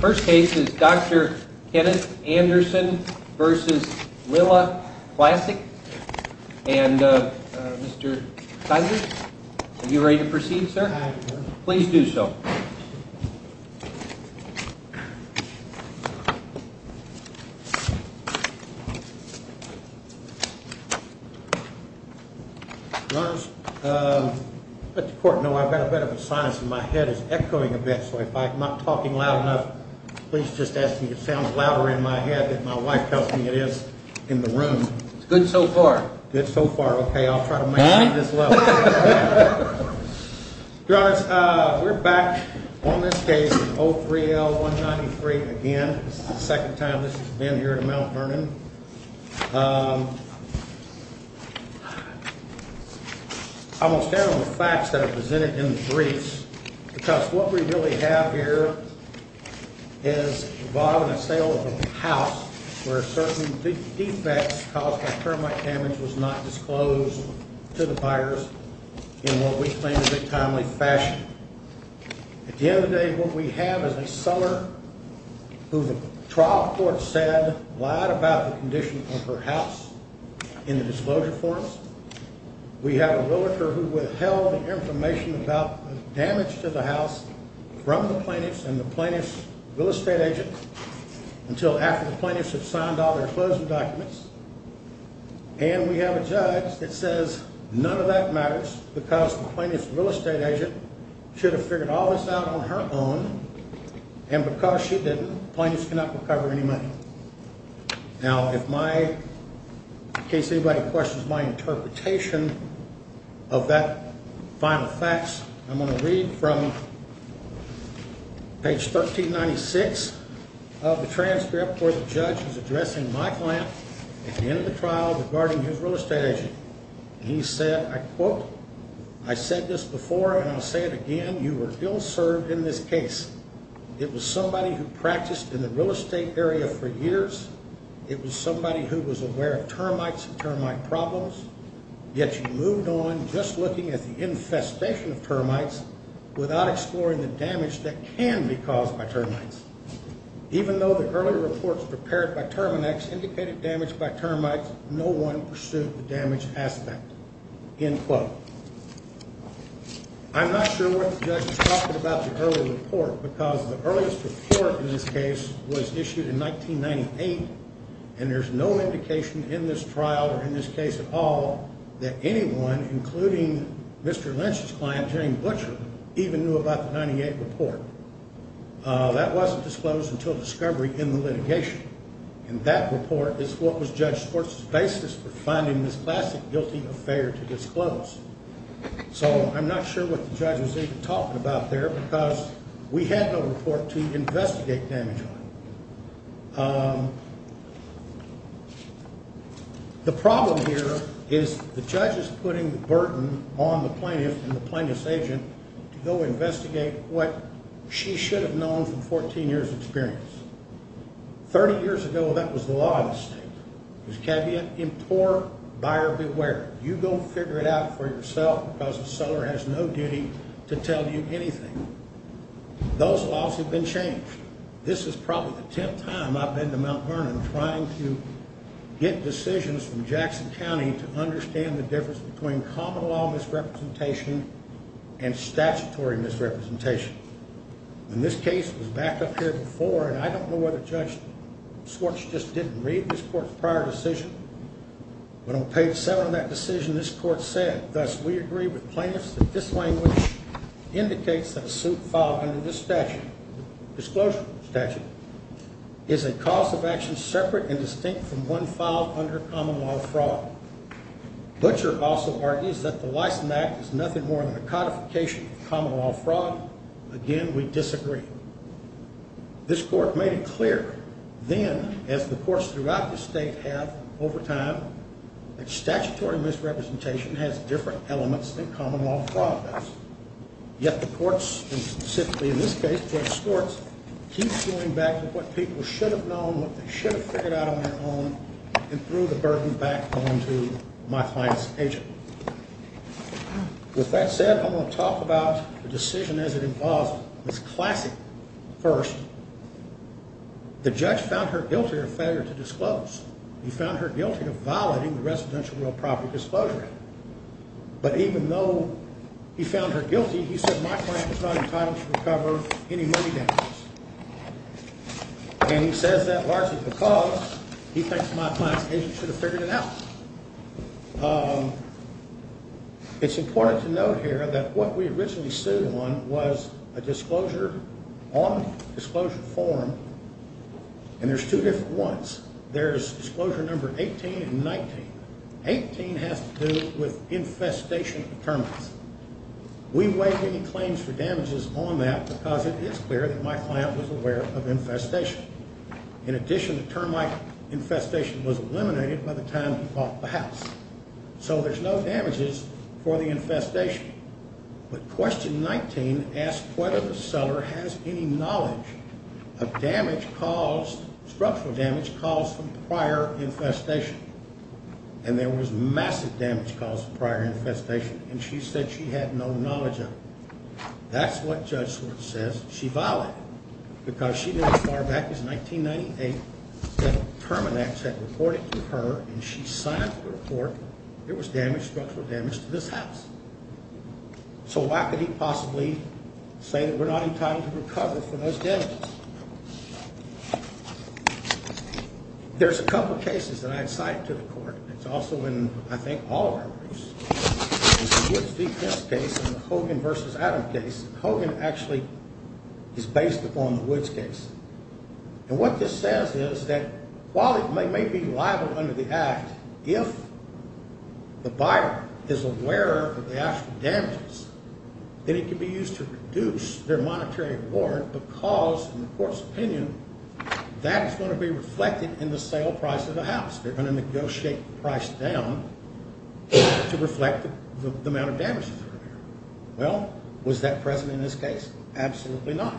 First case is Dr. Kenneth Anderson v. Lilla Klasek, and Mr. Saenz, are you ready to proceed, sir? Please do so. Your Honor, let the court know I've got a bit of a sinus, and my head is echoing a bit, so if I'm not talking loud enough, please just ask me if it sounds louder in my head than my wife tells me it is in the room. It's good so far. Good so far, okay, I'll try to maintain this level. Your Honor, we're back on this case, 03L193, again. This is the second time this has been here at Mount Vernon. I'm going to stay on the facts that are presented in the briefs, because what we really have here is involving a sale of a house where certain defects caused by termite damage was not disclosed to the buyers in what we claim is a timely fashion. At the end of the day, what we have is a seller who the trial court said lied about the condition of her house in the disclosure forms. We have a realtor who withheld information about damage to the house from the plaintiffs and the plaintiff's real estate agent until after the plaintiffs had signed all their closing documents. And we have a judge that says none of that matters because the plaintiff's real estate agent should have figured all this out on her own, and because she didn't, the plaintiffs cannot recover any money. Now, in case anybody questions my interpretation of that final facts, I'm going to read from page 1396 of the transcript where the judge is addressing my client at the end of the trial regarding his real estate agent. He said, I quote, I said this before and I'll say it again, you were ill served in this case. It was somebody who practiced in the real estate area for years. It was somebody who was aware of termites and termite problems, yet you moved on just looking at the infestation of termites without exploring the damage that can be caused by termites. Even though the early reports prepared by Terminex indicated damage by termites, no one pursued the damage aspect, end quote. I'm not sure what the judge is talking about the early report because the earliest report in this case was issued in 1998, and there's no indication in this trial or in this case at all that anyone, including Mr. Lynch's client, Jane Butcher, even knew about the 1998 report. That wasn't disclosed until discovery in the litigation, and that report is what was Judge Sports' basis for finding this classic guilty affair to disclose. So I'm not sure what the judge was even talking about there because we had no report to investigate damage on. The problem here is the judge is putting the burden on the plaintiff and the plaintiff's agent to go investigate what she should have known from 14 years experience. 30 years ago, that was the law of the state. It was a caveat, import buyer beware. You go figure it out for yourself because the seller has no duty to tell you anything. Those laws have been changed. This is probably the 10th time I've been to Mount Vernon trying to get decisions from Jackson County to understand the difference between common law misrepresentation and statutory misrepresentation. And this case was backed up here before, and I don't know whether Judge Sports just didn't read this court's prior decision. But on page seven of that decision, this court said, thus, we agree with plaintiffs that this language indicates that a suit filed under this statute. Disclosure statute is a cause of action separate and distinct from one filed under common law fraud. Butcher also argues that the license act is nothing more than a codification of common law fraud. Again, we disagree. This court made it clear then, as the courts throughout the state have over time, that statutory misrepresentation has different elements than common law fraud does. Yet the courts, and specifically in this case, Judge Sports, keeps going back to what people should have known, what they should have figured out on their own, and threw the burden back onto my client's agent. With that said, I want to talk about the decision as it involves Ms. Classic first. The judge found her guilty of failure to disclose. He found her guilty of violating the Residential Real Property Disclosure Act. But even though he found her guilty, he said my client was not entitled to recover any money damages. And he says that largely because he thinks my client's agent should have figured it out. It's important to note here that what we originally sued on was a disclosure on disclosure form, and there's two different ones. There's disclosure number 18 and 19. 18 has to do with infestation of termites. We waived any claims for damages on that because it is clear that my client was aware of infestation. In addition, the termite infestation was eliminated by the time he bought the house. So there's no damages for the infestation. But question 19 asked whether the seller has any knowledge of structural damage caused from prior infestation. And there was massive damage caused from prior infestation, and she said she had no knowledge of it. That's what Judge Swartz says she violated, because she didn't as far back as 1998. Terminix had reported to her, and she signed the report. There was damage, structural damage to this house. So why could he possibly say that we're not entitled to recover from those damages? There's a couple cases that I had cited to the court. It's also in, I think, all of our briefs. It's the Woods v. Pence case and the Hogan v. Adams case. Hogan actually is based upon the Woods case. And what this says is that while it may be liable under the act, if the buyer is aware of the actual damages, then it can be used to reduce their monetary warrant because, in the court's opinion, that is going to be reflected in the sale price of the house. They're going to negotiate the price down to reflect the amount of damages. Well, was that present in this case? Absolutely not.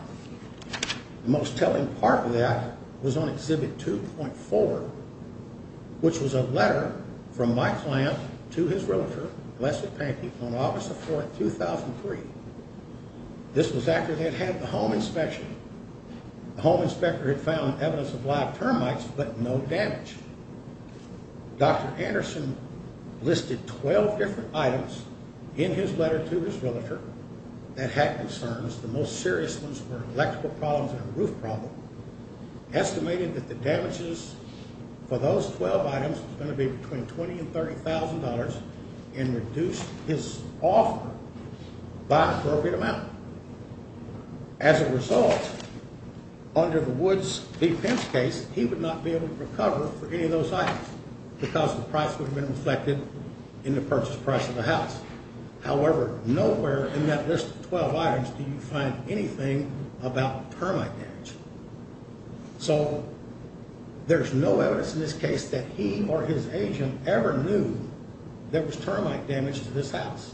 The most telling part of that was on Exhibit 2.4, which was a letter from my client to his realtor, Leslie Pankey, on August 4, 2003. This was after they'd had the home inspection. The home inspector had found evidence of live termites, but no damage. Dr. Anderson listed 12 different items in his letter to his realtor that had concerns. The most serious ones were electrical problems and a roof problem. Estimated that the damages for those 12 items was going to be between $20,000 and $30,000 and reduced his offer by an appropriate amount. As a result, under the Woods v. Pence case, he would not be able to recover for any of those items because the price would have been reflected in the purchase price of the house. However, nowhere in that list of 12 items did you find anything about termite damage. So there's no evidence in this case that he or his agent ever knew there was termite damage to this house.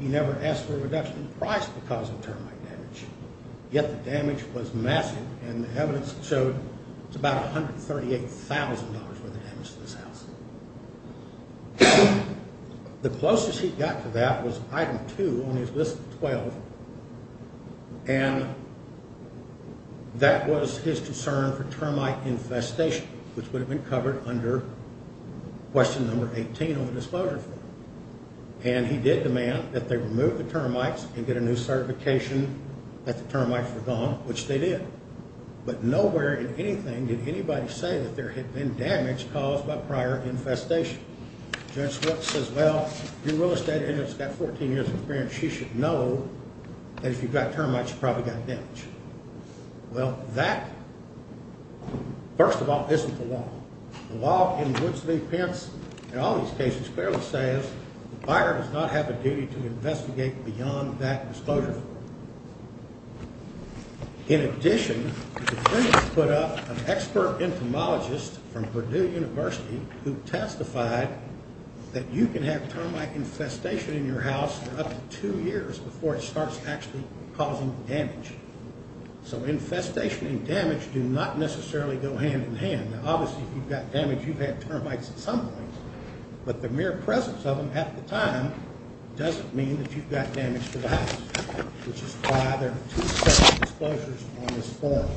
He never asked for a reduction in price because of termite damage. Yet the damage was massive, and the evidence showed it was about $138,000 worth of damage to this house. The closest he got to that was item 2 on his list of 12, and that was his concern for termite infestation, which would have been covered under question number 18 on the Disclosure Form. And he did demand that they remove the termites and get a new certification that the termites were gone, which they did. But nowhere in anything did anybody say that there had been damage caused by prior infestation. Judge Swift says, well, your real estate agent's got 14 years of experience. She should know that if you got termites, you probably got damage. Well, that, first of all, isn't the law. The law in Woods v. Pence and all these cases clearly says the buyer does not have a duty to investigate beyond that Disclosure Form. In addition, the defense put up an expert entomologist from Purdue University who testified that you can have termite infestation in your house for up to two years before it starts actually causing damage. So infestation and damage do not necessarily go hand in hand. Now, obviously, if you've got damage, you've had termites at some point, but the mere presence of them at the time doesn't mean that you've got damage to the house. Which is why there are two separate disclosures on this form.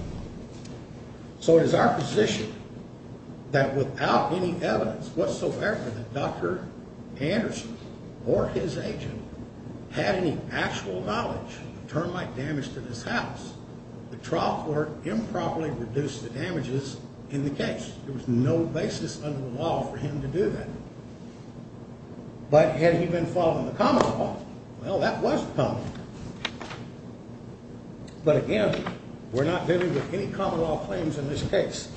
So it is our position that without any evidence whatsoever that Dr. Anderson or his agent had any actual knowledge of termite damage to this house, the trial court improperly reduced the damages in the case. There was no basis under the law for him to do that. But had he been following the common law? Well, that was the problem. But again, we're not dealing with any common law claims in this case.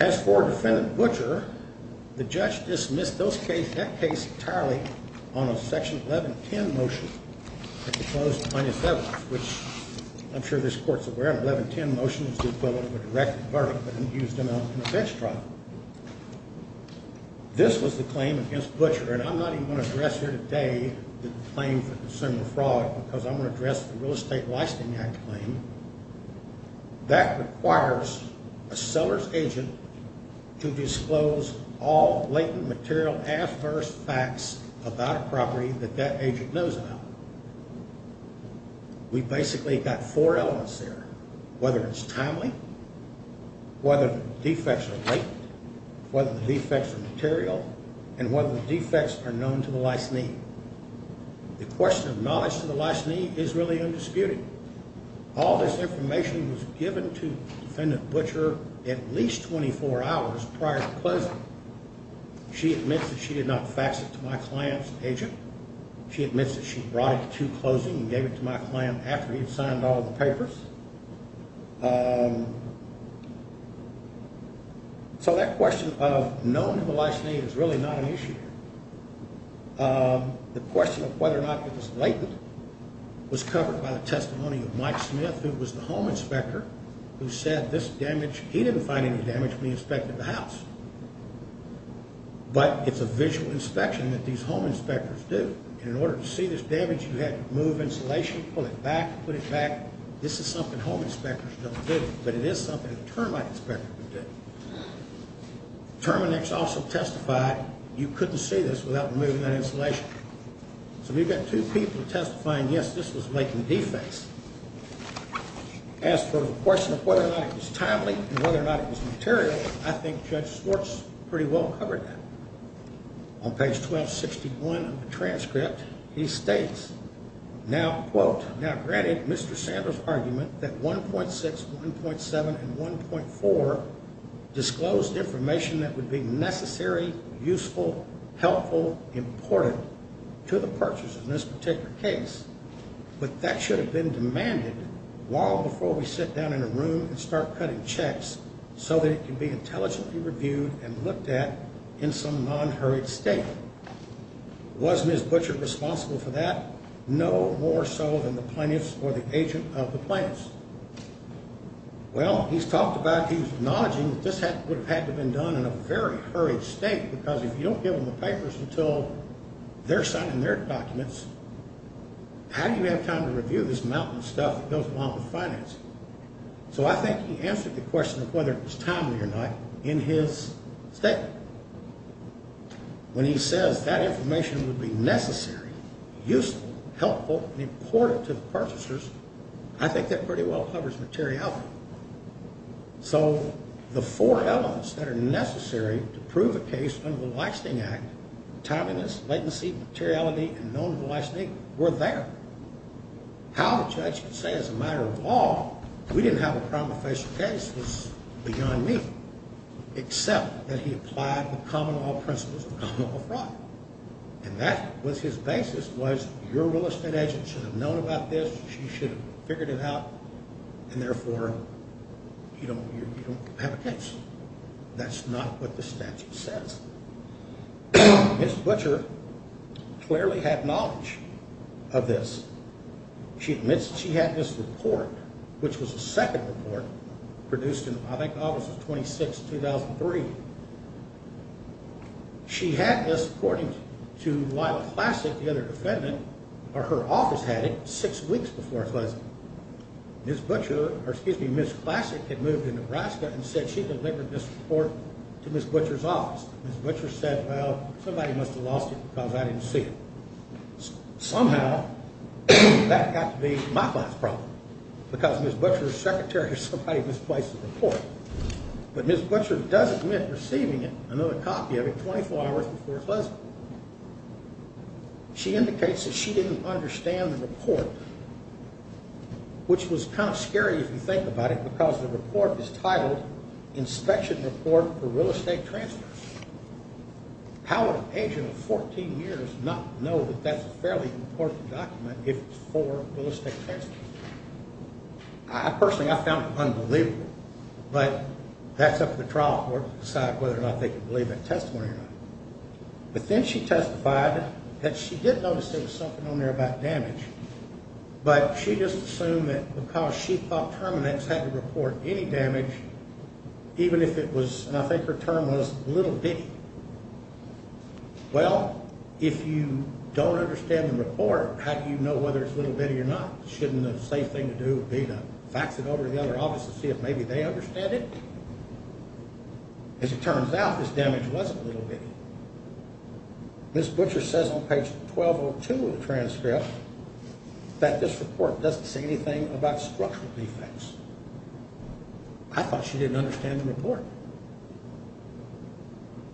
As for Defendant Butcher, the judge dismissed that case entirely on a Section 1110 motion that was proposed in 2007, which I'm sure this court is aware of. The 1110 motion is the equivalent of a direct verdict, but it was used in an offense trial. This was the claim against Butcher. And I'm not even going to address here today the claim for consumer fraud because I'm going to address the Real Estate Licensing Act claim. That requires a seller's agent to disclose all latent material, adverse facts about a property that that agent knows about. We basically got four elements there, whether it's timely, whether the defects are latent, whether the defects are material, and whether the defects are known to the licensee. The question of knowledge to the licensee is really undisputed. All this information was given to Defendant Butcher at least 24 hours prior to closing. She admits that she did not fax it to my client's agent. She admits that she brought it to closing and gave it to my client after he'd signed all the papers. So that question of known to the licensee is really not an issue here. The question of whether or not it was latent was covered by the testimony of Mike Smith, who was the home inspector, who said this damage, he didn't find any damage when he inspected the house. But it's a visual inspection that these home inspectors do. And in order to see this damage, you had to remove insulation, pull it back, put it back. This is something home inspectors don't do, but it is something a termite inspector would do. Terminix also testified you couldn't see this without removing that insulation. So we've got two people testifying, yes, this was latent defects. As for the question of whether or not it was timely and whether or not it was material, I think Judge Swartz pretty well covered that. On page 1261 of the transcript, he states, now, quote, now granted Mr. Sanders' argument that 1.6, 1.7, and 1.4 disclosed information that would be necessary, useful, helpful, important to the purchase in this particular case, but that should have been demanded long before we sit down in a room and start cutting checks so that it can be intelligently reviewed and looked at in some non-hurried state. Was Ms. Butcher responsible for that? No more so than the plaintiffs or the agent of the plaintiffs. Well, he's talked about, he's acknowledging that this would have had to have been done in a very hurried state because if you don't give them the papers until they're signing their documents, how do you have time to review this mountain of stuff that goes along with financing? So I think he answered the question of whether it was timely or not in his statement. When he says that information would be necessary, useful, helpful, important to the purchasers, I think that pretty well covers materiality. So the four elements that are necessary to prove a case under the Leisnig Act, timeliness, latency, materiality, and non-leisnig were there. How the judge could say as a matter of law we didn't have a crime of facial case was beyond me, except that he applied the common law principles of common law fraud. And that was his basis was your real estate agent should have known about this, she should have figured it out, and therefore you don't have a case. That's not what the statute says. Ms. Butcher clearly had knowledge of this. She admits she had this report, which was a second report produced in, I think, August 26, 2003. She had this according to Lila Classic, the other defendant, or her office had it six weeks before Leisnig. Ms. Classic had moved to Nebraska and said she delivered this report to Ms. Butcher's office. Ms. Butcher said, well, somebody must have lost it because I didn't see it. Somehow that got to be my class problem because Ms. Butcher's secretary or somebody misplaced the report. But Ms. Butcher does admit receiving another copy of it 24 hours before Leisnig. She indicates that she didn't understand the report, which was kind of scary if you think about it because the report is titled Inspection Report for Real Estate Transfers. How would an agent of 14 years not know that that's a fairly important document if it's for real estate transfers? Personally, I found it unbelievable. But that's up to the trial court to decide whether or not they can believe that testimony or not. But then she testified that she did notice there was something on there about damage, but she just assumed that because she thought Terminix had to report any damage, even if it was, and I think her term was, little bitty. Well, if you don't understand the report, how do you know whether it's little bitty or not? Shouldn't the safe thing to do be to fax it over to the other office to see if maybe they understand it? As it turns out, this damage wasn't little bitty. Ms. Butcher says on page 1202 of the transcript that this report doesn't say anything about structural defects. I thought she didn't understand the report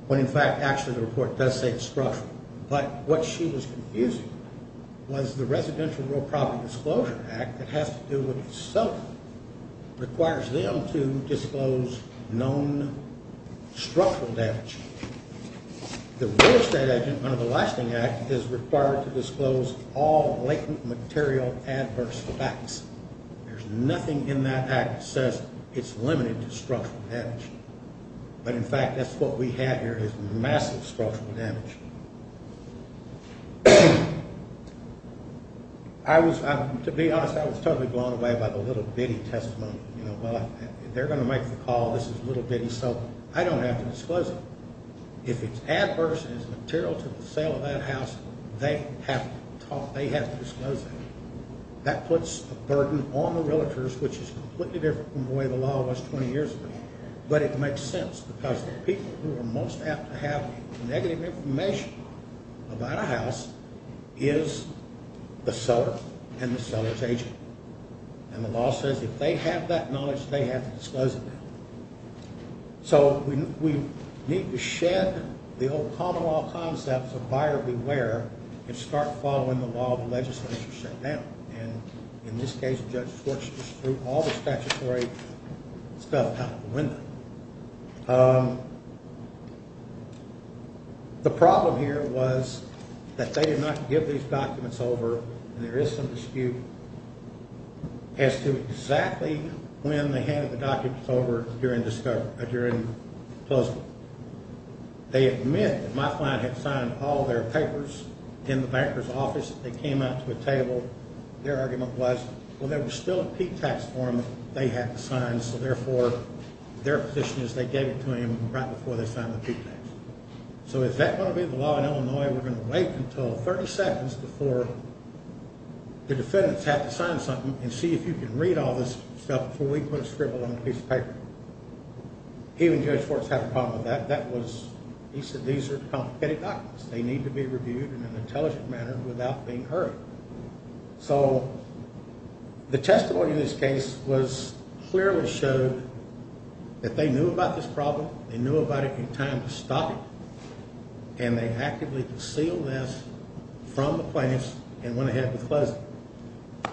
when, in fact, actually the report does say it's structural. But what she was confusing was the Residential Real Property Disclosure Act that has to do with itself, requires them to disclose known structural damage. The Real Estate Agent Under the Lasting Act is required to disclose all latent material adverse facts. There's nothing in that act that says it's limited to structural damage. But, in fact, that's what we have here is massive structural damage. To be honest, I was totally blown away by the little bitty testimony. They're going to make the call, this is little bitty, so I don't have to disclose it. If it's adverse and it's material to the sale of that house, they have to disclose it. That puts a burden on the realtors, which is completely different from the way the law was 20 years ago. But it makes sense because the people who are most apt to have negative information about a house is the seller and the seller's agent. And the law says if they have that knowledge, they have to disclose it. So we need to shed the old common law concepts of buyer beware and start following the law of the legislature now. And in this case, the judge works through all the statutory stuff out of the window. The problem here was that they did not give these documents over, and there is some dispute, as to exactly when they handed the documents over during disclosure. They admit that my client had signed all their papers in the banker's office. They came out to a table. Their argument was when there was still a P-tax form they had to sign, so therefore their position is they gave it to him right before they signed the P-tax. So if that were to be the law in Illinois, we're going to wait until 30 seconds before the defendants have to sign something and see if you can read all this stuff before we put a scribble on a piece of paper. He and Judge Fortes have a problem with that. He said these are complicated documents. They need to be reviewed in an intelligent manner without being heard. So the testimony in this case clearly showed that they knew about this problem, they knew about it in time to stop it, and they actively concealed this from the plaintiffs and went ahead with closing it.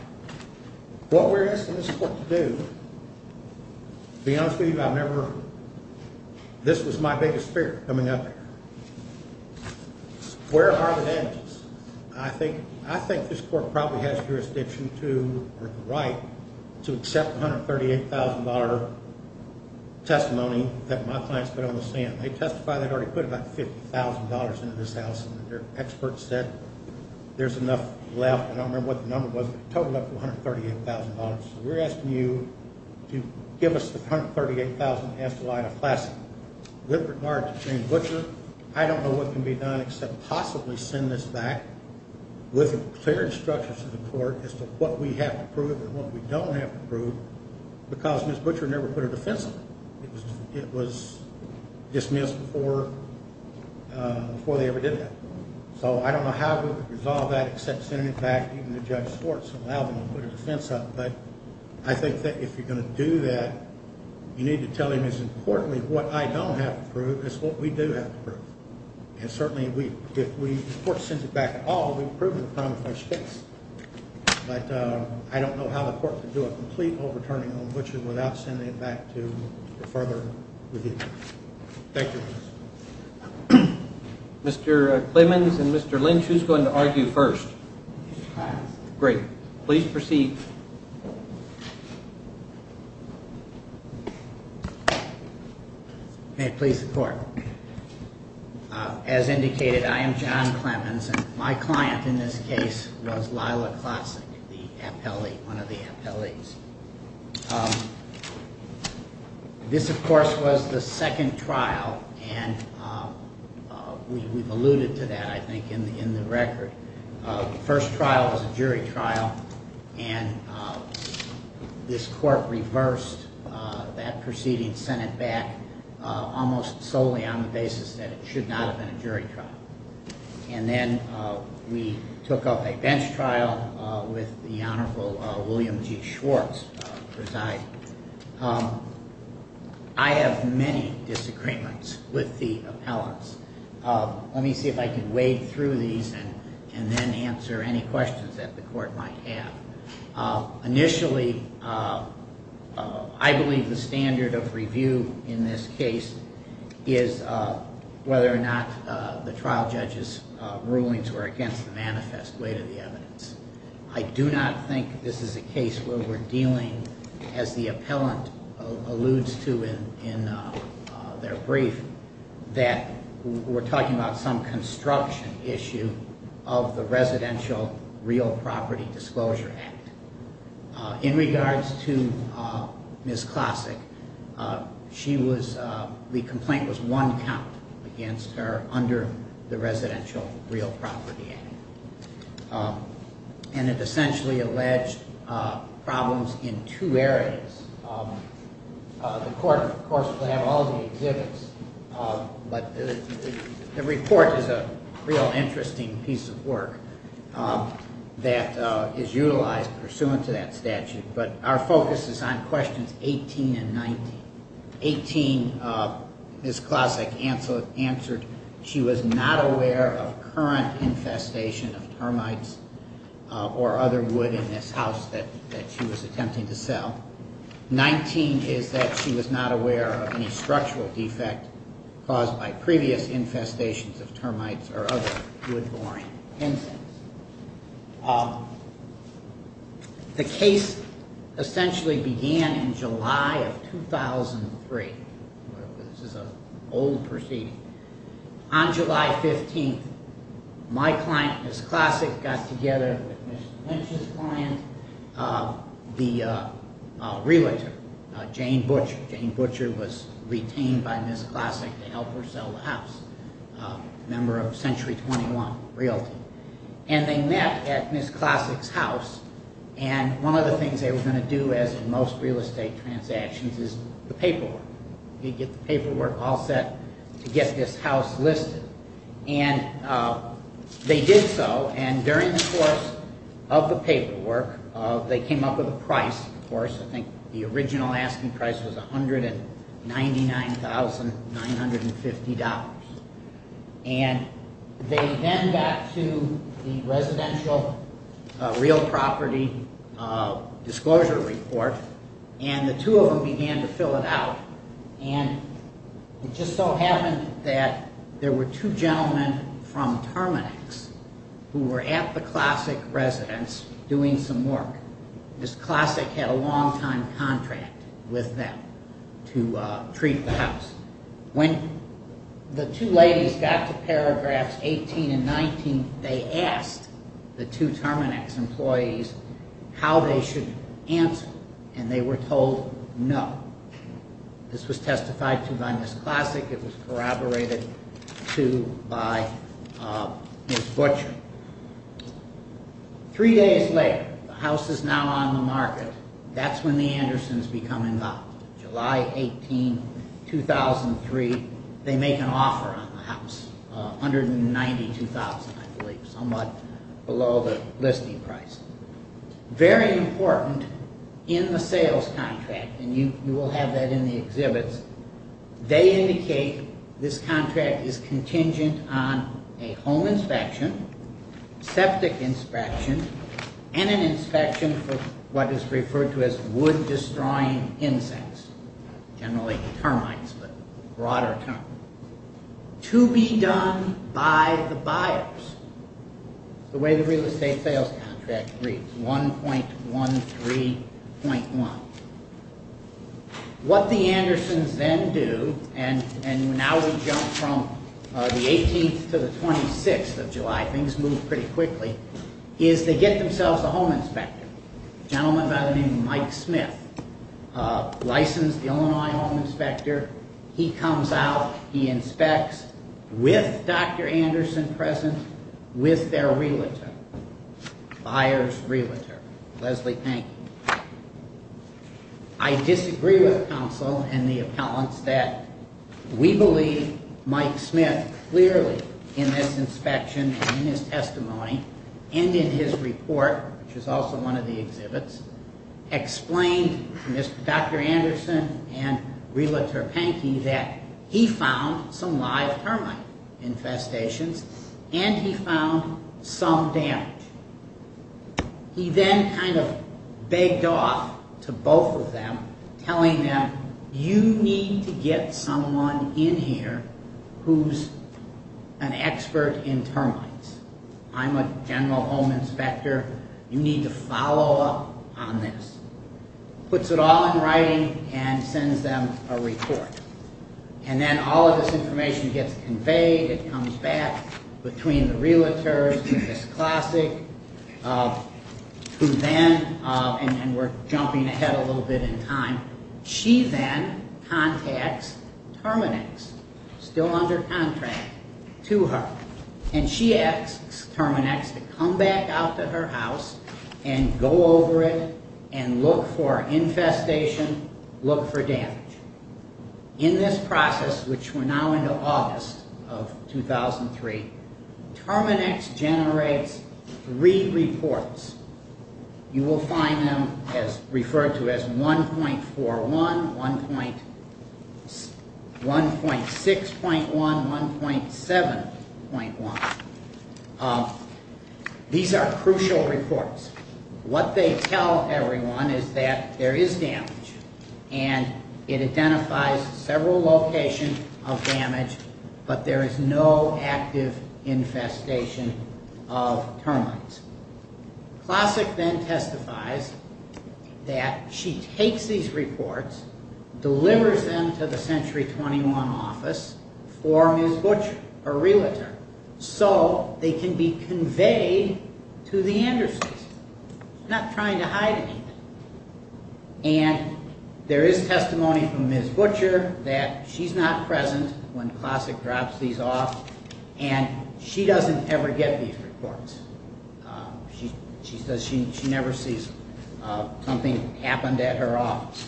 What we're asking this court to do, to be honest with you, this was my biggest fear coming up here. Where are the damages? I think this court probably has jurisdiction to, or the right, to accept the $138,000 testimony that my clients put on the stand. They testified they'd already put about $50,000 into this house, and their experts said there's enough left. I don't remember what the number was, but it totaled up to $138,000. So we're asking you to give us the $138,000 and ask the line of class. With regard to Jane Butcher, I don't know what can be done except possibly send this back with a clear instruction to the court as to what we have to prove and what we don't have to prove because Ms. Butcher never put a defense on it. It was dismissed before they ever did that. So I don't know how to resolve that except sending it back to the judge's courts and allow them to put a defense up. But I think that if you're going to do that, you need to tell him as importantly what I don't have to prove as what we do have to prove. And certainly if the court sends it back at all, we've proven the crime of first offense. But I don't know how the court can do a complete overturning on Butcher without sending it back to further review. Thank you. Mr. Clemmons and Mr. Lynch, who's going to argue first? Great. Please proceed. May it please the court. As indicated, I am John Clemmons. My client in this case was Lila Klassik, one of the appellees. This, of course, was the second trial, and we've alluded to that, I think, in the record. The first trial was a jury trial, and this court reversed that proceeding, sent it back almost solely on the basis that it should not have been a jury trial. And then we took up a bench trial with the Honorable William G. Schwartz presiding. I have many disagreements with the appellants. Let me see if I can wade through these and then answer any questions that the court might have. Initially, I believe the standard of review in this case is whether or not the trial judge's rulings were against the manifest weight of the evidence. I do not think this is a case where we're dealing, as the appellant alludes to in their brief, that we're talking about some construction issue of the Residential Real Property Disclosure Act. In regards to Ms. Klassik, the complaint was one count against her under the Residential Real Property Act. And it essentially alleged problems in two areas. The court, of course, will have all the exhibits, but the report is a real interesting piece of work that is utilized pursuant to that statute. But our focus is on questions 18 and 19. 18, Ms. Klassik answered she was not aware of current infestation of termites or other wood in this house that she was attempting to sell. 19 is that she was not aware of any structural defect caused by previous infestations of termites or other wood-boring insects. The case essentially began in July of 2003. This is an old proceeding. On July 15th, my client, Ms. Klassik, got together with Mr. Lynch's client, the realtor, Jane Butcher. Jane Butcher was retained by Ms. Klassik to help her sell the house, a member of Century 21 Realty. And they met at Ms. Klassik's house, and one of the things they were going to do, as in most real estate transactions, is the paperwork. You get the paperwork all set to get this house listed. And they did so, and during the course of the paperwork, they came up with a price, of course. I think the original asking price was $199,950. And they then got to the residential real property disclosure report, and the two of them began to fill it out. And it just so happened that there were two gentlemen from Terminex who were at the Klassik residence doing some work. Ms. Klassik had a long-time contract with them to treat the house. When the two ladies got to paragraphs 18 and 19, they asked the two Terminex employees how they should answer, and they were told no. This was testified to by Ms. Klassik. It was corroborated to by Ms. Butcher. Three days later, the house is now on the market. That's when the Andersons become involved. July 18, 2003, they make an offer on the house. $192,000, I believe, somewhat below the listing price. Very important in the sales contract, and you will have that in the exhibits, they indicate this contract is contingent on a home inspection, septic inspection, and an inspection for what is referred to as wood-destroying insects, generally termites, but a broader term. To be done by the buyers, the way the real estate sales contract reads, 1.13.1. What the Andersons then do, and now we jump from the 18th to the 26th of July, things move pretty quickly, is they get themselves a home inspector, a gentleman by the name of Mike Smith, a licensed Illinois home inspector. He comes out. He inspects with Dr. Anderson present, with their realtor, the buyer's realtor, Leslie Pankey. I disagree with counsel and the appellants that we believe Mike Smith clearly, in this inspection and in his testimony, and in his report, which is also one of the exhibits, explained to Dr. Anderson and realtor Pankey that he found some live termite infestations and he found some damage. He then kind of begged off to both of them, telling them, you need to get someone in here who's an expert in termites. I'm a general home inspector. You need to follow up on this. Puts it all in writing and sends them a report. And then all of this information gets conveyed. It comes back between the realtors, who then, and we're jumping ahead a little bit in time, she then contacts Terminex, still under contract, to her. And she asks Terminex to come back out to her house and go over it and look for infestation, look for damage. In this process, which we're now into August of 2003, Terminex generates three reports. You will find them referred to as 1.41, 1.6.1, 1.7.1. These are crucial reports. What they tell everyone is that there is damage, and it identifies several locations of damage, but there is no active infestation of termites. Classic then testifies that she takes these reports, delivers them to the Century 21 office for Ms. Butcher, her realtor, so they can be conveyed to the industries. She's not trying to hide anything. And there is testimony from Ms. Butcher that she's not present when Classic drops these off, and she doesn't ever get these reports. She says she never sees something happened at her office.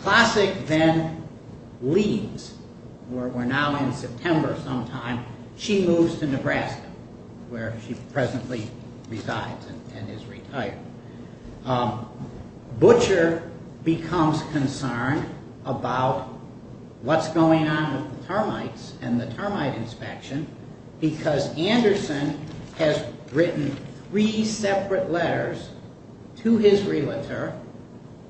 Classic then leaves. We're now in September sometime. She moves to Nebraska, where she presently resides and is retired. Butcher becomes concerned about what's going on with the termites and the termite inspection because Anderson has written three separate letters to his realtor,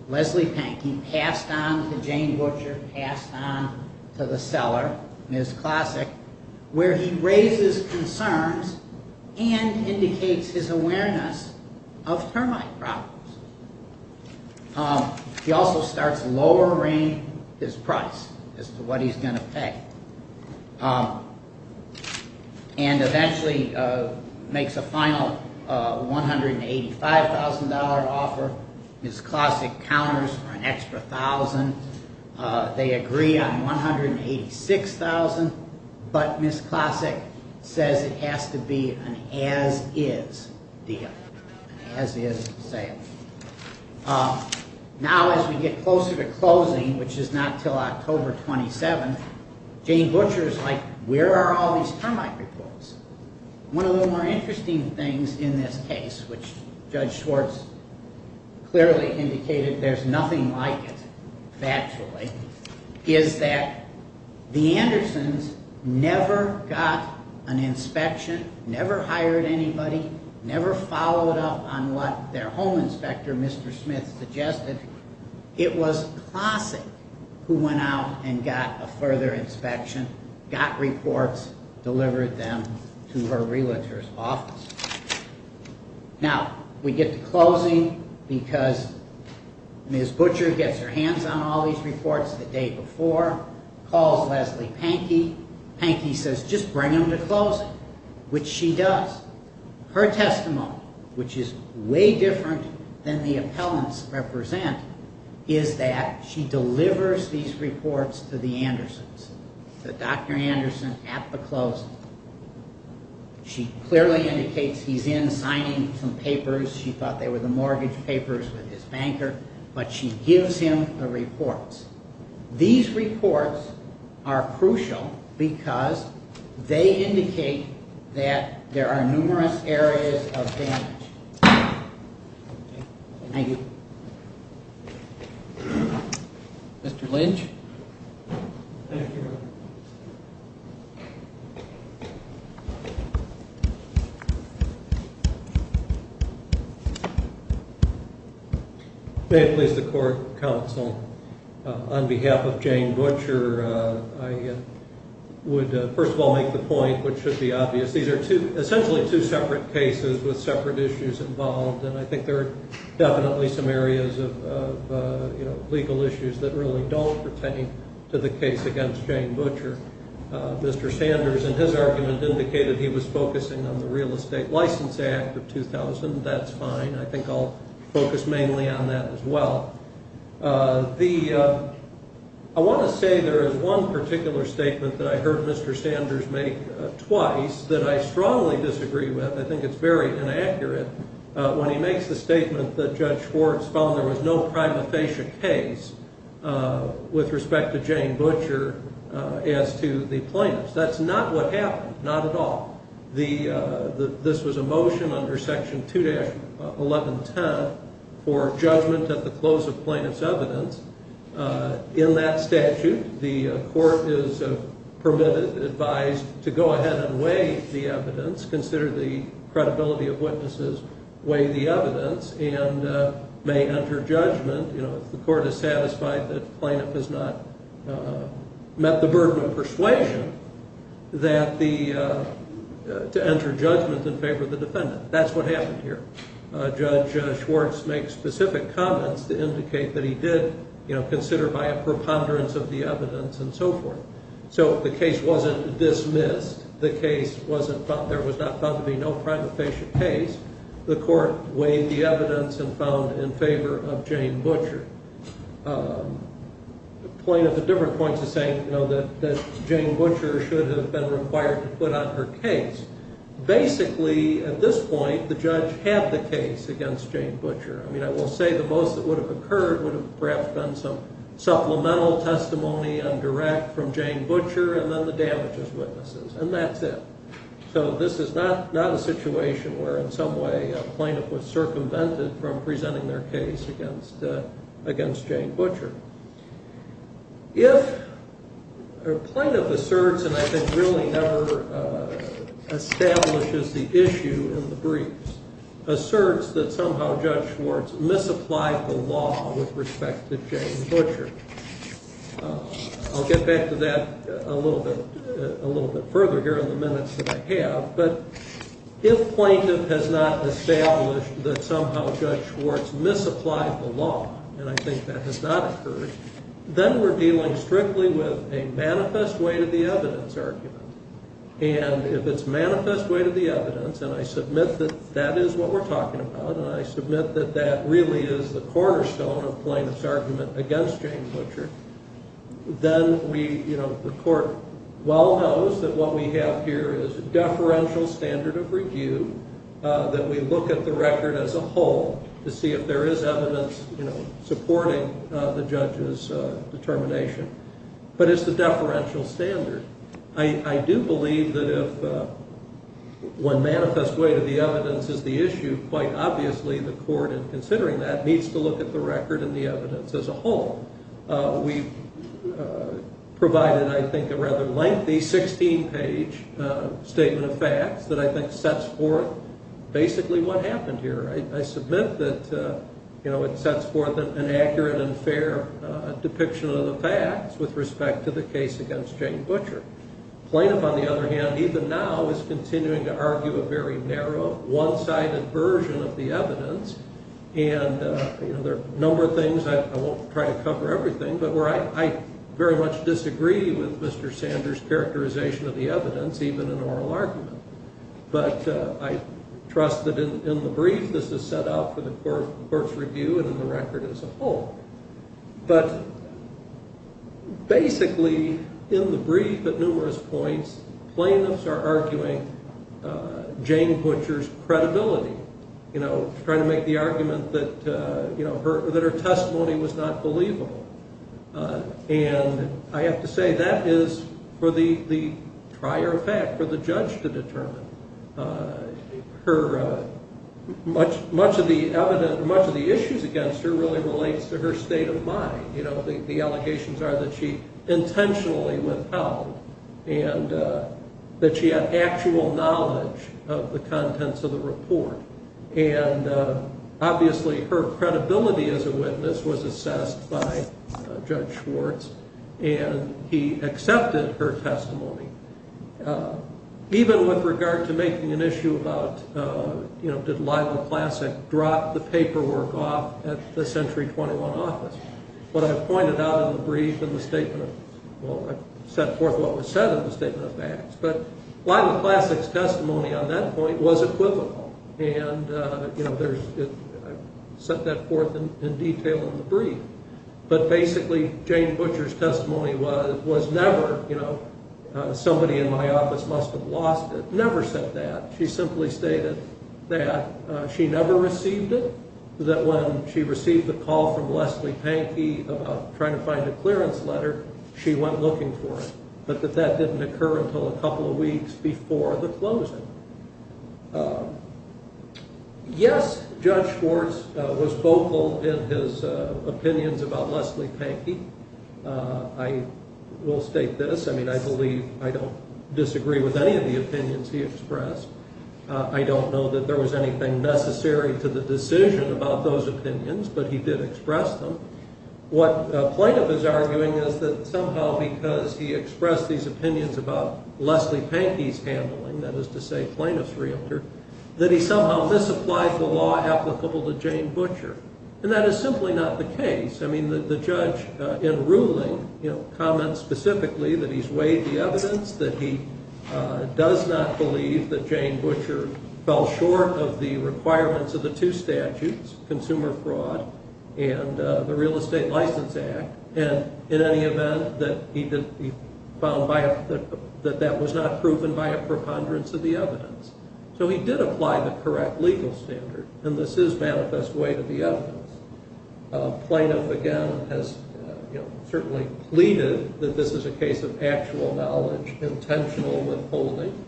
Leslie Penk. He passed on to Jane Butcher, passed on to the seller, Ms. Classic, where he raises concerns and indicates his awareness of termite problems. He also starts lowering his price as to what he's going to pay and eventually makes a final $185,000 offer. Ms. Classic counters for an extra $1,000. They agree on $186,000, but Ms. Classic says it has to be an as-is deal, an as-is sale. Now as we get closer to closing, which is not until October 27th, Jane Butcher is like, where are all these termite reports? One of the more interesting things in this case, which Judge Schwartz clearly indicated there's nothing like it, factually, is that the Andersons never got an inspection, never hired anybody, never followed up on what their home inspector, Mr. Smith, suggested. It was Classic who went out and got a further inspection, got reports, delivered them to her realtor's office. Now we get to closing because Ms. Butcher gets her hands on all these reports the day before, calls Leslie Penk. Penk says just bring them to closing, which she does. Her testimony, which is way different than the appellants represent, is that she delivers these reports to the Andersons, to Dr. Anderson at the closing. She clearly indicates he's in signing some papers. She thought they were the mortgage papers with his banker, but she gives him the reports. These reports are crucial because they indicate that there are numerous areas of damage. Thank you. Mr. Lynch? Thank you. May it please the court, counsel, on behalf of Jane Butcher, I would first of all make the point, which should be obvious, these are essentially two separate cases with separate issues involved, and I think there are definitely some areas of legal issues that really don't pertain to the case against Jane Butcher. Mr. Sanders in his argument indicated he was focusing on the Real Estate License Act of 2000. That's fine. I think I'll focus mainly on that as well. I want to say there is one particular statement that I heard Mr. Sanders make twice that I strongly disagree with. I think it's very inaccurate. When he makes the statement that Judge Schwartz found there was no prima facie case with respect to Jane Butcher, as to the plaintiffs, that's not what happened, not at all. This was a motion under Section 2-1110 for judgment at the close of plaintiff's evidence. In that statute, the court is permitted, advised to go ahead and weigh the evidence, consider the credibility of witnesses, weigh the evidence, and may enter judgment. The court is satisfied that the plaintiff has not met the burden of persuasion to enter judgment in favor of the defendant. That's what happened here. Judge Schwartz makes specific comments to indicate that he did consider by a preponderance of the evidence and so forth. So the case wasn't dismissed. The case wasn't found, there was not found to be no prima facie case. The court weighed the evidence and found in favor of Jane Butcher. The plaintiff at different points is saying that Jane Butcher should have been required to put on her case. Basically, at this point, the judge had the case against Jane Butcher. I mean, I will say the most that would have occurred would have perhaps been some supplemental testimony and direct from Jane Butcher and then the damages witnesses, and that's it. So this is not a situation where in some way a plaintiff was circumvented from presenting their case against Jane Butcher. If a plaintiff asserts and I think really never establishes the issue in the briefs, asserts that somehow Judge Schwartz misapplied the law with respect to Jane Butcher, I'll get back to that a little bit further here in the minutes that I have, but if plaintiff has not established that somehow Judge Schwartz misapplied the law, and I think that has not occurred, then we're dealing strictly with a manifest way to the evidence argument. And if it's manifest way to the evidence, and I submit that that is what we're talking about, and I submit that that really is the cornerstone of plaintiff's argument against Jane Butcher, then the court well knows that what we have here is a deferential standard of review, that we look at the record as a whole to see if there is evidence supporting the judge's determination. But it's the deferential standard. I do believe that if one manifest way to the evidence is the issue, quite obviously the court in considering that needs to look at the record and the evidence as a whole. We provided, I think, a rather lengthy 16-page statement of facts that I think sets forth basically what happened here. I submit that it sets forth an accurate and fair depiction of the facts with respect to the case against Jane Butcher. Plaintiff, on the other hand, even now, is continuing to argue a very narrow, one-sided version of the evidence, and there are a number of things, I won't try to cover everything, but where I very much disagree with Mr. Sanders' characterization of the evidence, even in oral argument. But I trust that in the brief this is set out for the court's review and in the record as a whole. But basically, in the brief at numerous points, plaintiffs are arguing Jane Butcher's credibility, trying to make the argument that her testimony was not believable. And I have to say that is for the prior fact, for the judge to determine. Much of the issues against her really relates to her state of mind. The allegations are that she intentionally withheld and that she had actual knowledge of the contents of the report. And obviously, her credibility as a witness was assessed by Judge Schwartz, and he accepted her testimony. Even with regard to making an issue about, you know, did Lila Classic drop the paperwork off at the Century 21 office? What I pointed out in the brief in the statement of, well, I set forth what was said in the statement of facts, but Lila Classic's testimony on that point was equivocal, and I set that forth in detail in the brief. But basically, Jane Butcher's testimony was never, you know, somebody in my office must have lost it, never said that. She simply stated that she never received it, that when she received the call from Leslie Pankey about trying to find a clearance letter, she went looking for it, but that that didn't occur until a couple of weeks before the closing. Yes, Judge Schwartz was vocal in his opinions about Leslie Pankey. I will state this. I mean, I believe I don't disagree with any of the opinions he expressed. I don't know that there was anything necessary to the decision about those opinions, but he did express them. What Plaintiff is arguing is that somehow because he expressed these opinions about Leslie Pankey's handling, that is to say Plaintiff's realtor, that he somehow misapplied the law applicable to Jane Butcher, and that is simply not the case. I mean, the judge in ruling, you know, comments specifically that he's weighed the evidence, that he does not believe that Jane Butcher fell short of the requirements of the two statutes, consumer fraud and the Real Estate License Act, and in any event, that he found that that was not proven by a preponderance of the evidence. So he did apply the correct legal standard, and this is manifest way to the evidence. Plaintiff, again, has certainly pleaded that this is a case of actual knowledge, intentional withholding,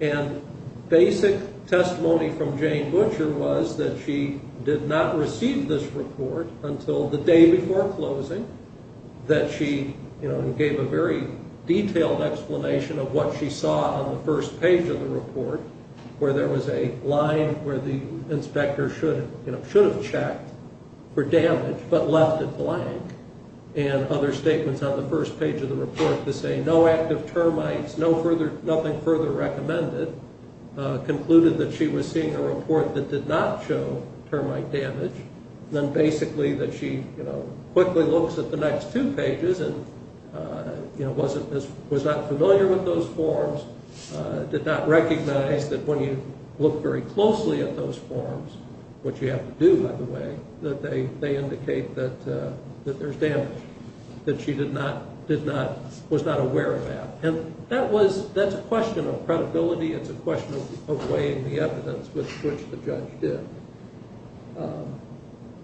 and basic testimony from Jane Butcher was that she did not receive this report until the day before closing, that she, you know, gave a very detailed explanation of what she saw on the first page of the report, where there was a line where the inspector should have checked for damage but left it blank, and other statements on the first page of the report that say no active termites, nothing further recommended, concluded that she was seeing a report that did not show termite damage, then basically that she, you know, quickly looks at the next two pages and, you know, was not familiar with those forms, did not recognize that when you look very closely at those forms, which you have to do, by the way, that they indicate that there's damage, that she was not aware of that. And that's a question of credibility. It's a question of weighing the evidence, which the judge did.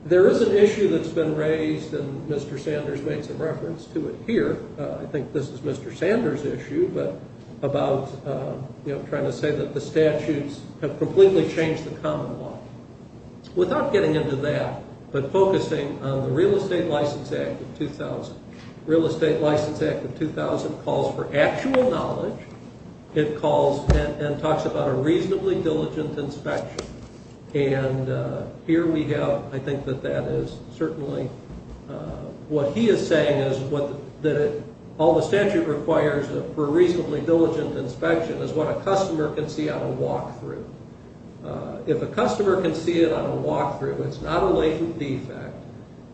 There is an issue that's been raised, and Mr. Sanders made some reference to it here. I think this is Mr. Sanders' issue, but about, you know, I'm going to say that the statutes have completely changed the common law. Without getting into that, but focusing on the Real Estate License Act of 2000. The Real Estate License Act of 2000 calls for actual knowledge. It calls and talks about a reasonably diligent inspection. And here we have, I think that that is certainly what he is saying is that all the statute requires for a reasonably diligent inspection is what a customer can see on a walkthrough. If a customer can see it on a walkthrough, it's not a latent defect.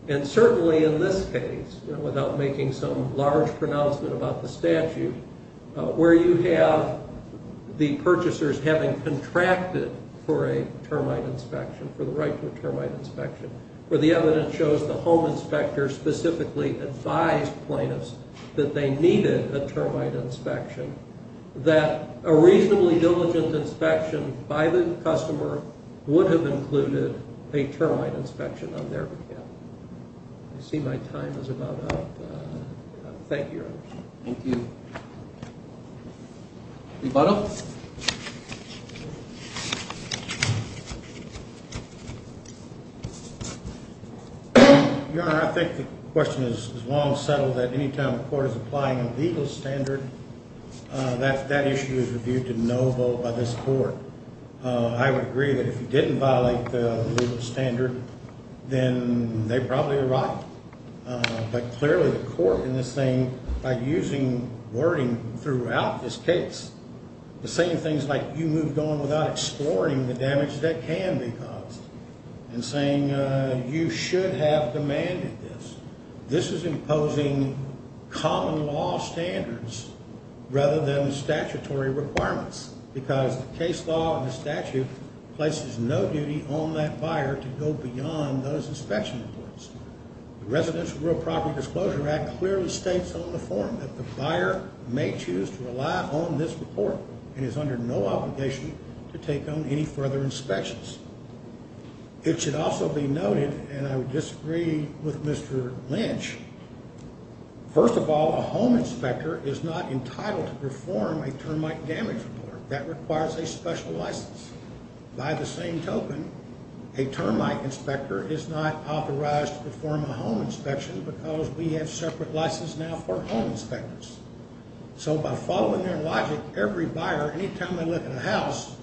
And certainly in this case, without making some large pronouncement about the statute, where you have the purchasers having contracted for a termite inspection, for the right to a termite inspection, where the evidence shows the home inspector specifically advised plaintiffs that they needed a termite inspection, that a reasonably diligent inspection by the customer would have included a termite inspection on their behalf. I see my time is about up. Thank you. Thank you. Rebuttal? Your Honor, I think the question is long settled that any time a court is applying a legal standard, that issue is reviewed to no vote by this court. I would agree that if you didn't violate the legal standard, then they probably are right. But clearly the court in this thing, by using wording throughout this case, the same things like you moved on without exploring the damage that can be caused, and saying you should have demanded this. This is imposing common law standards rather than statutory requirements because the case law and the statute places no duty on that buyer to go beyond those inspection reports. The Residential Real Property Disclosure Act clearly states on the form that the buyer may choose to rely on this report and is under no obligation to take on any further inspections. It should also be noted, and I would disagree with Mr. Lynch, First of all, a home inspector is not entitled to perform a termite damage report. That requires a special license. By the same token, a termite inspector is not authorized to perform a home inspection because we have separate licenses now for home inspectors. So by following their logic, every buyer, any time they live in a house,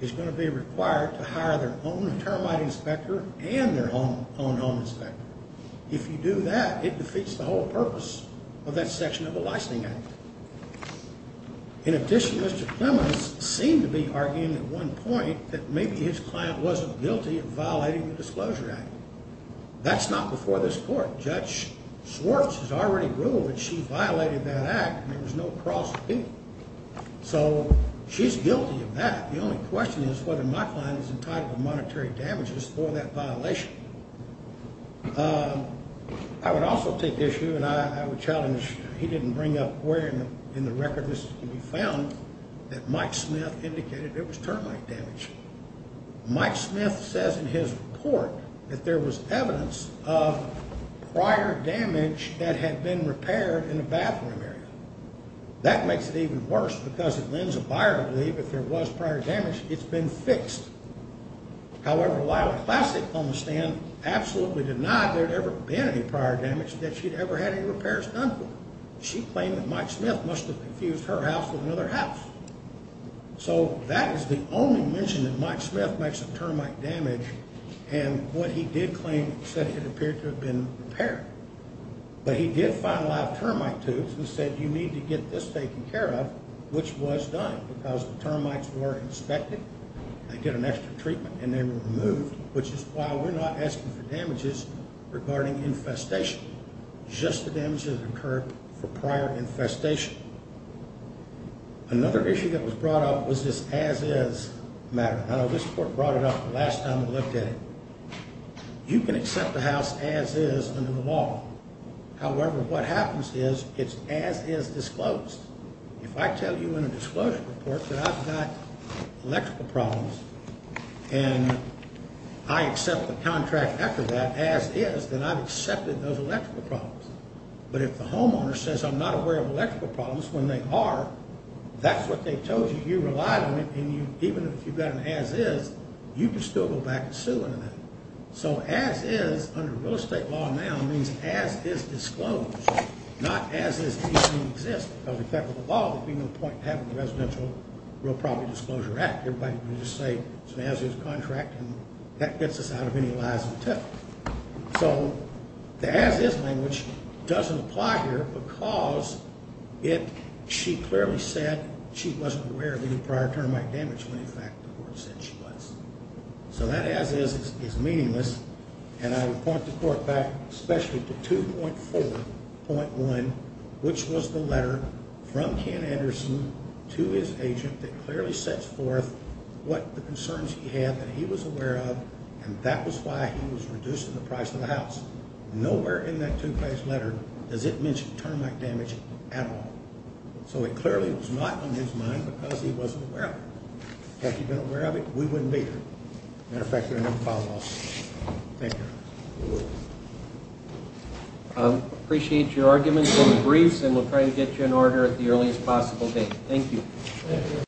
is going to be required to hire their own termite inspector and their own home inspector. If you do that, it defeats the whole purpose of that section of the licensing act. In addition, Mr. Clemons seemed to be arguing at one point that maybe his client wasn't guilty of violating the disclosure act. That's not before this court. Judge Swartz has already ruled that she violated that act and there was no cross with it. So she's guilty of that. The only question is whether my client is entitled to monetary damages for that violation. I would also take issue, and I would challenge, he didn't bring up where in the record this can be found, that Mike Smith indicated there was termite damage. Mike Smith says in his report that there was evidence of prior damage that had been repaired in the bathroom area. That makes it even worse because it lends a buyer the belief that there was prior damage. It's been fixed. However, Lila Classic on the stand absolutely denied there had ever been any prior damage and that she'd ever had any repairs done to it. She claimed that Mike Smith must have confused her house with another house. So that is the only mention that Mike Smith makes of termite damage and what he did claim said it appeared to have been repaired. But he did find a lot of termite tubes and said you need to get this taken care of, which was done because the termites were inspected. They get an extra treatment and they were removed, which is why we're not asking for damages regarding infestation, just the damages that occurred for prior infestation. Another issue that was brought up was this as-is matter. I know this court brought it up the last time we looked at it. You can accept a house as-is under the law. However, what happens is it's as-is disclosed. If I tell you in a disclosure report that I've got electrical problems and I accept the contract after that as-is, then I've accepted those electrical problems. But if the homeowner says I'm not aware of electrical problems when they are, that's what they told you. You relied on it, and even if you've got an as-is, you can still go back and sue in a minute. So as-is under real estate law now means as-is disclosed, not as-is even existent. If that were the law, there would be no point in having the Residential Real Property Disclosure Act. Everybody would just say it's an as-is contract, and that gets us out of any lies and tip. So the as-is language doesn't apply here because she clearly said she wasn't aware of any prior termite damage when, in fact, the court said she was. So that as-is is meaningless, and I would point the court back especially to 2.4.1, which was the letter from Ken Anderson to his agent that clearly sets forth what the concerns he had that he was aware of, and that was why he was reduced to the price of the house. Nowhere in that two-page letter does it mention termite damage at all. So it clearly was not on his mind because he wasn't aware of it. Had he been aware of it, we wouldn't be here. As a matter of fact, there are no follow-ups. Thank you. I appreciate your arguments in the briefs, and we'll try to get you in order at the earliest possible date. Thank you.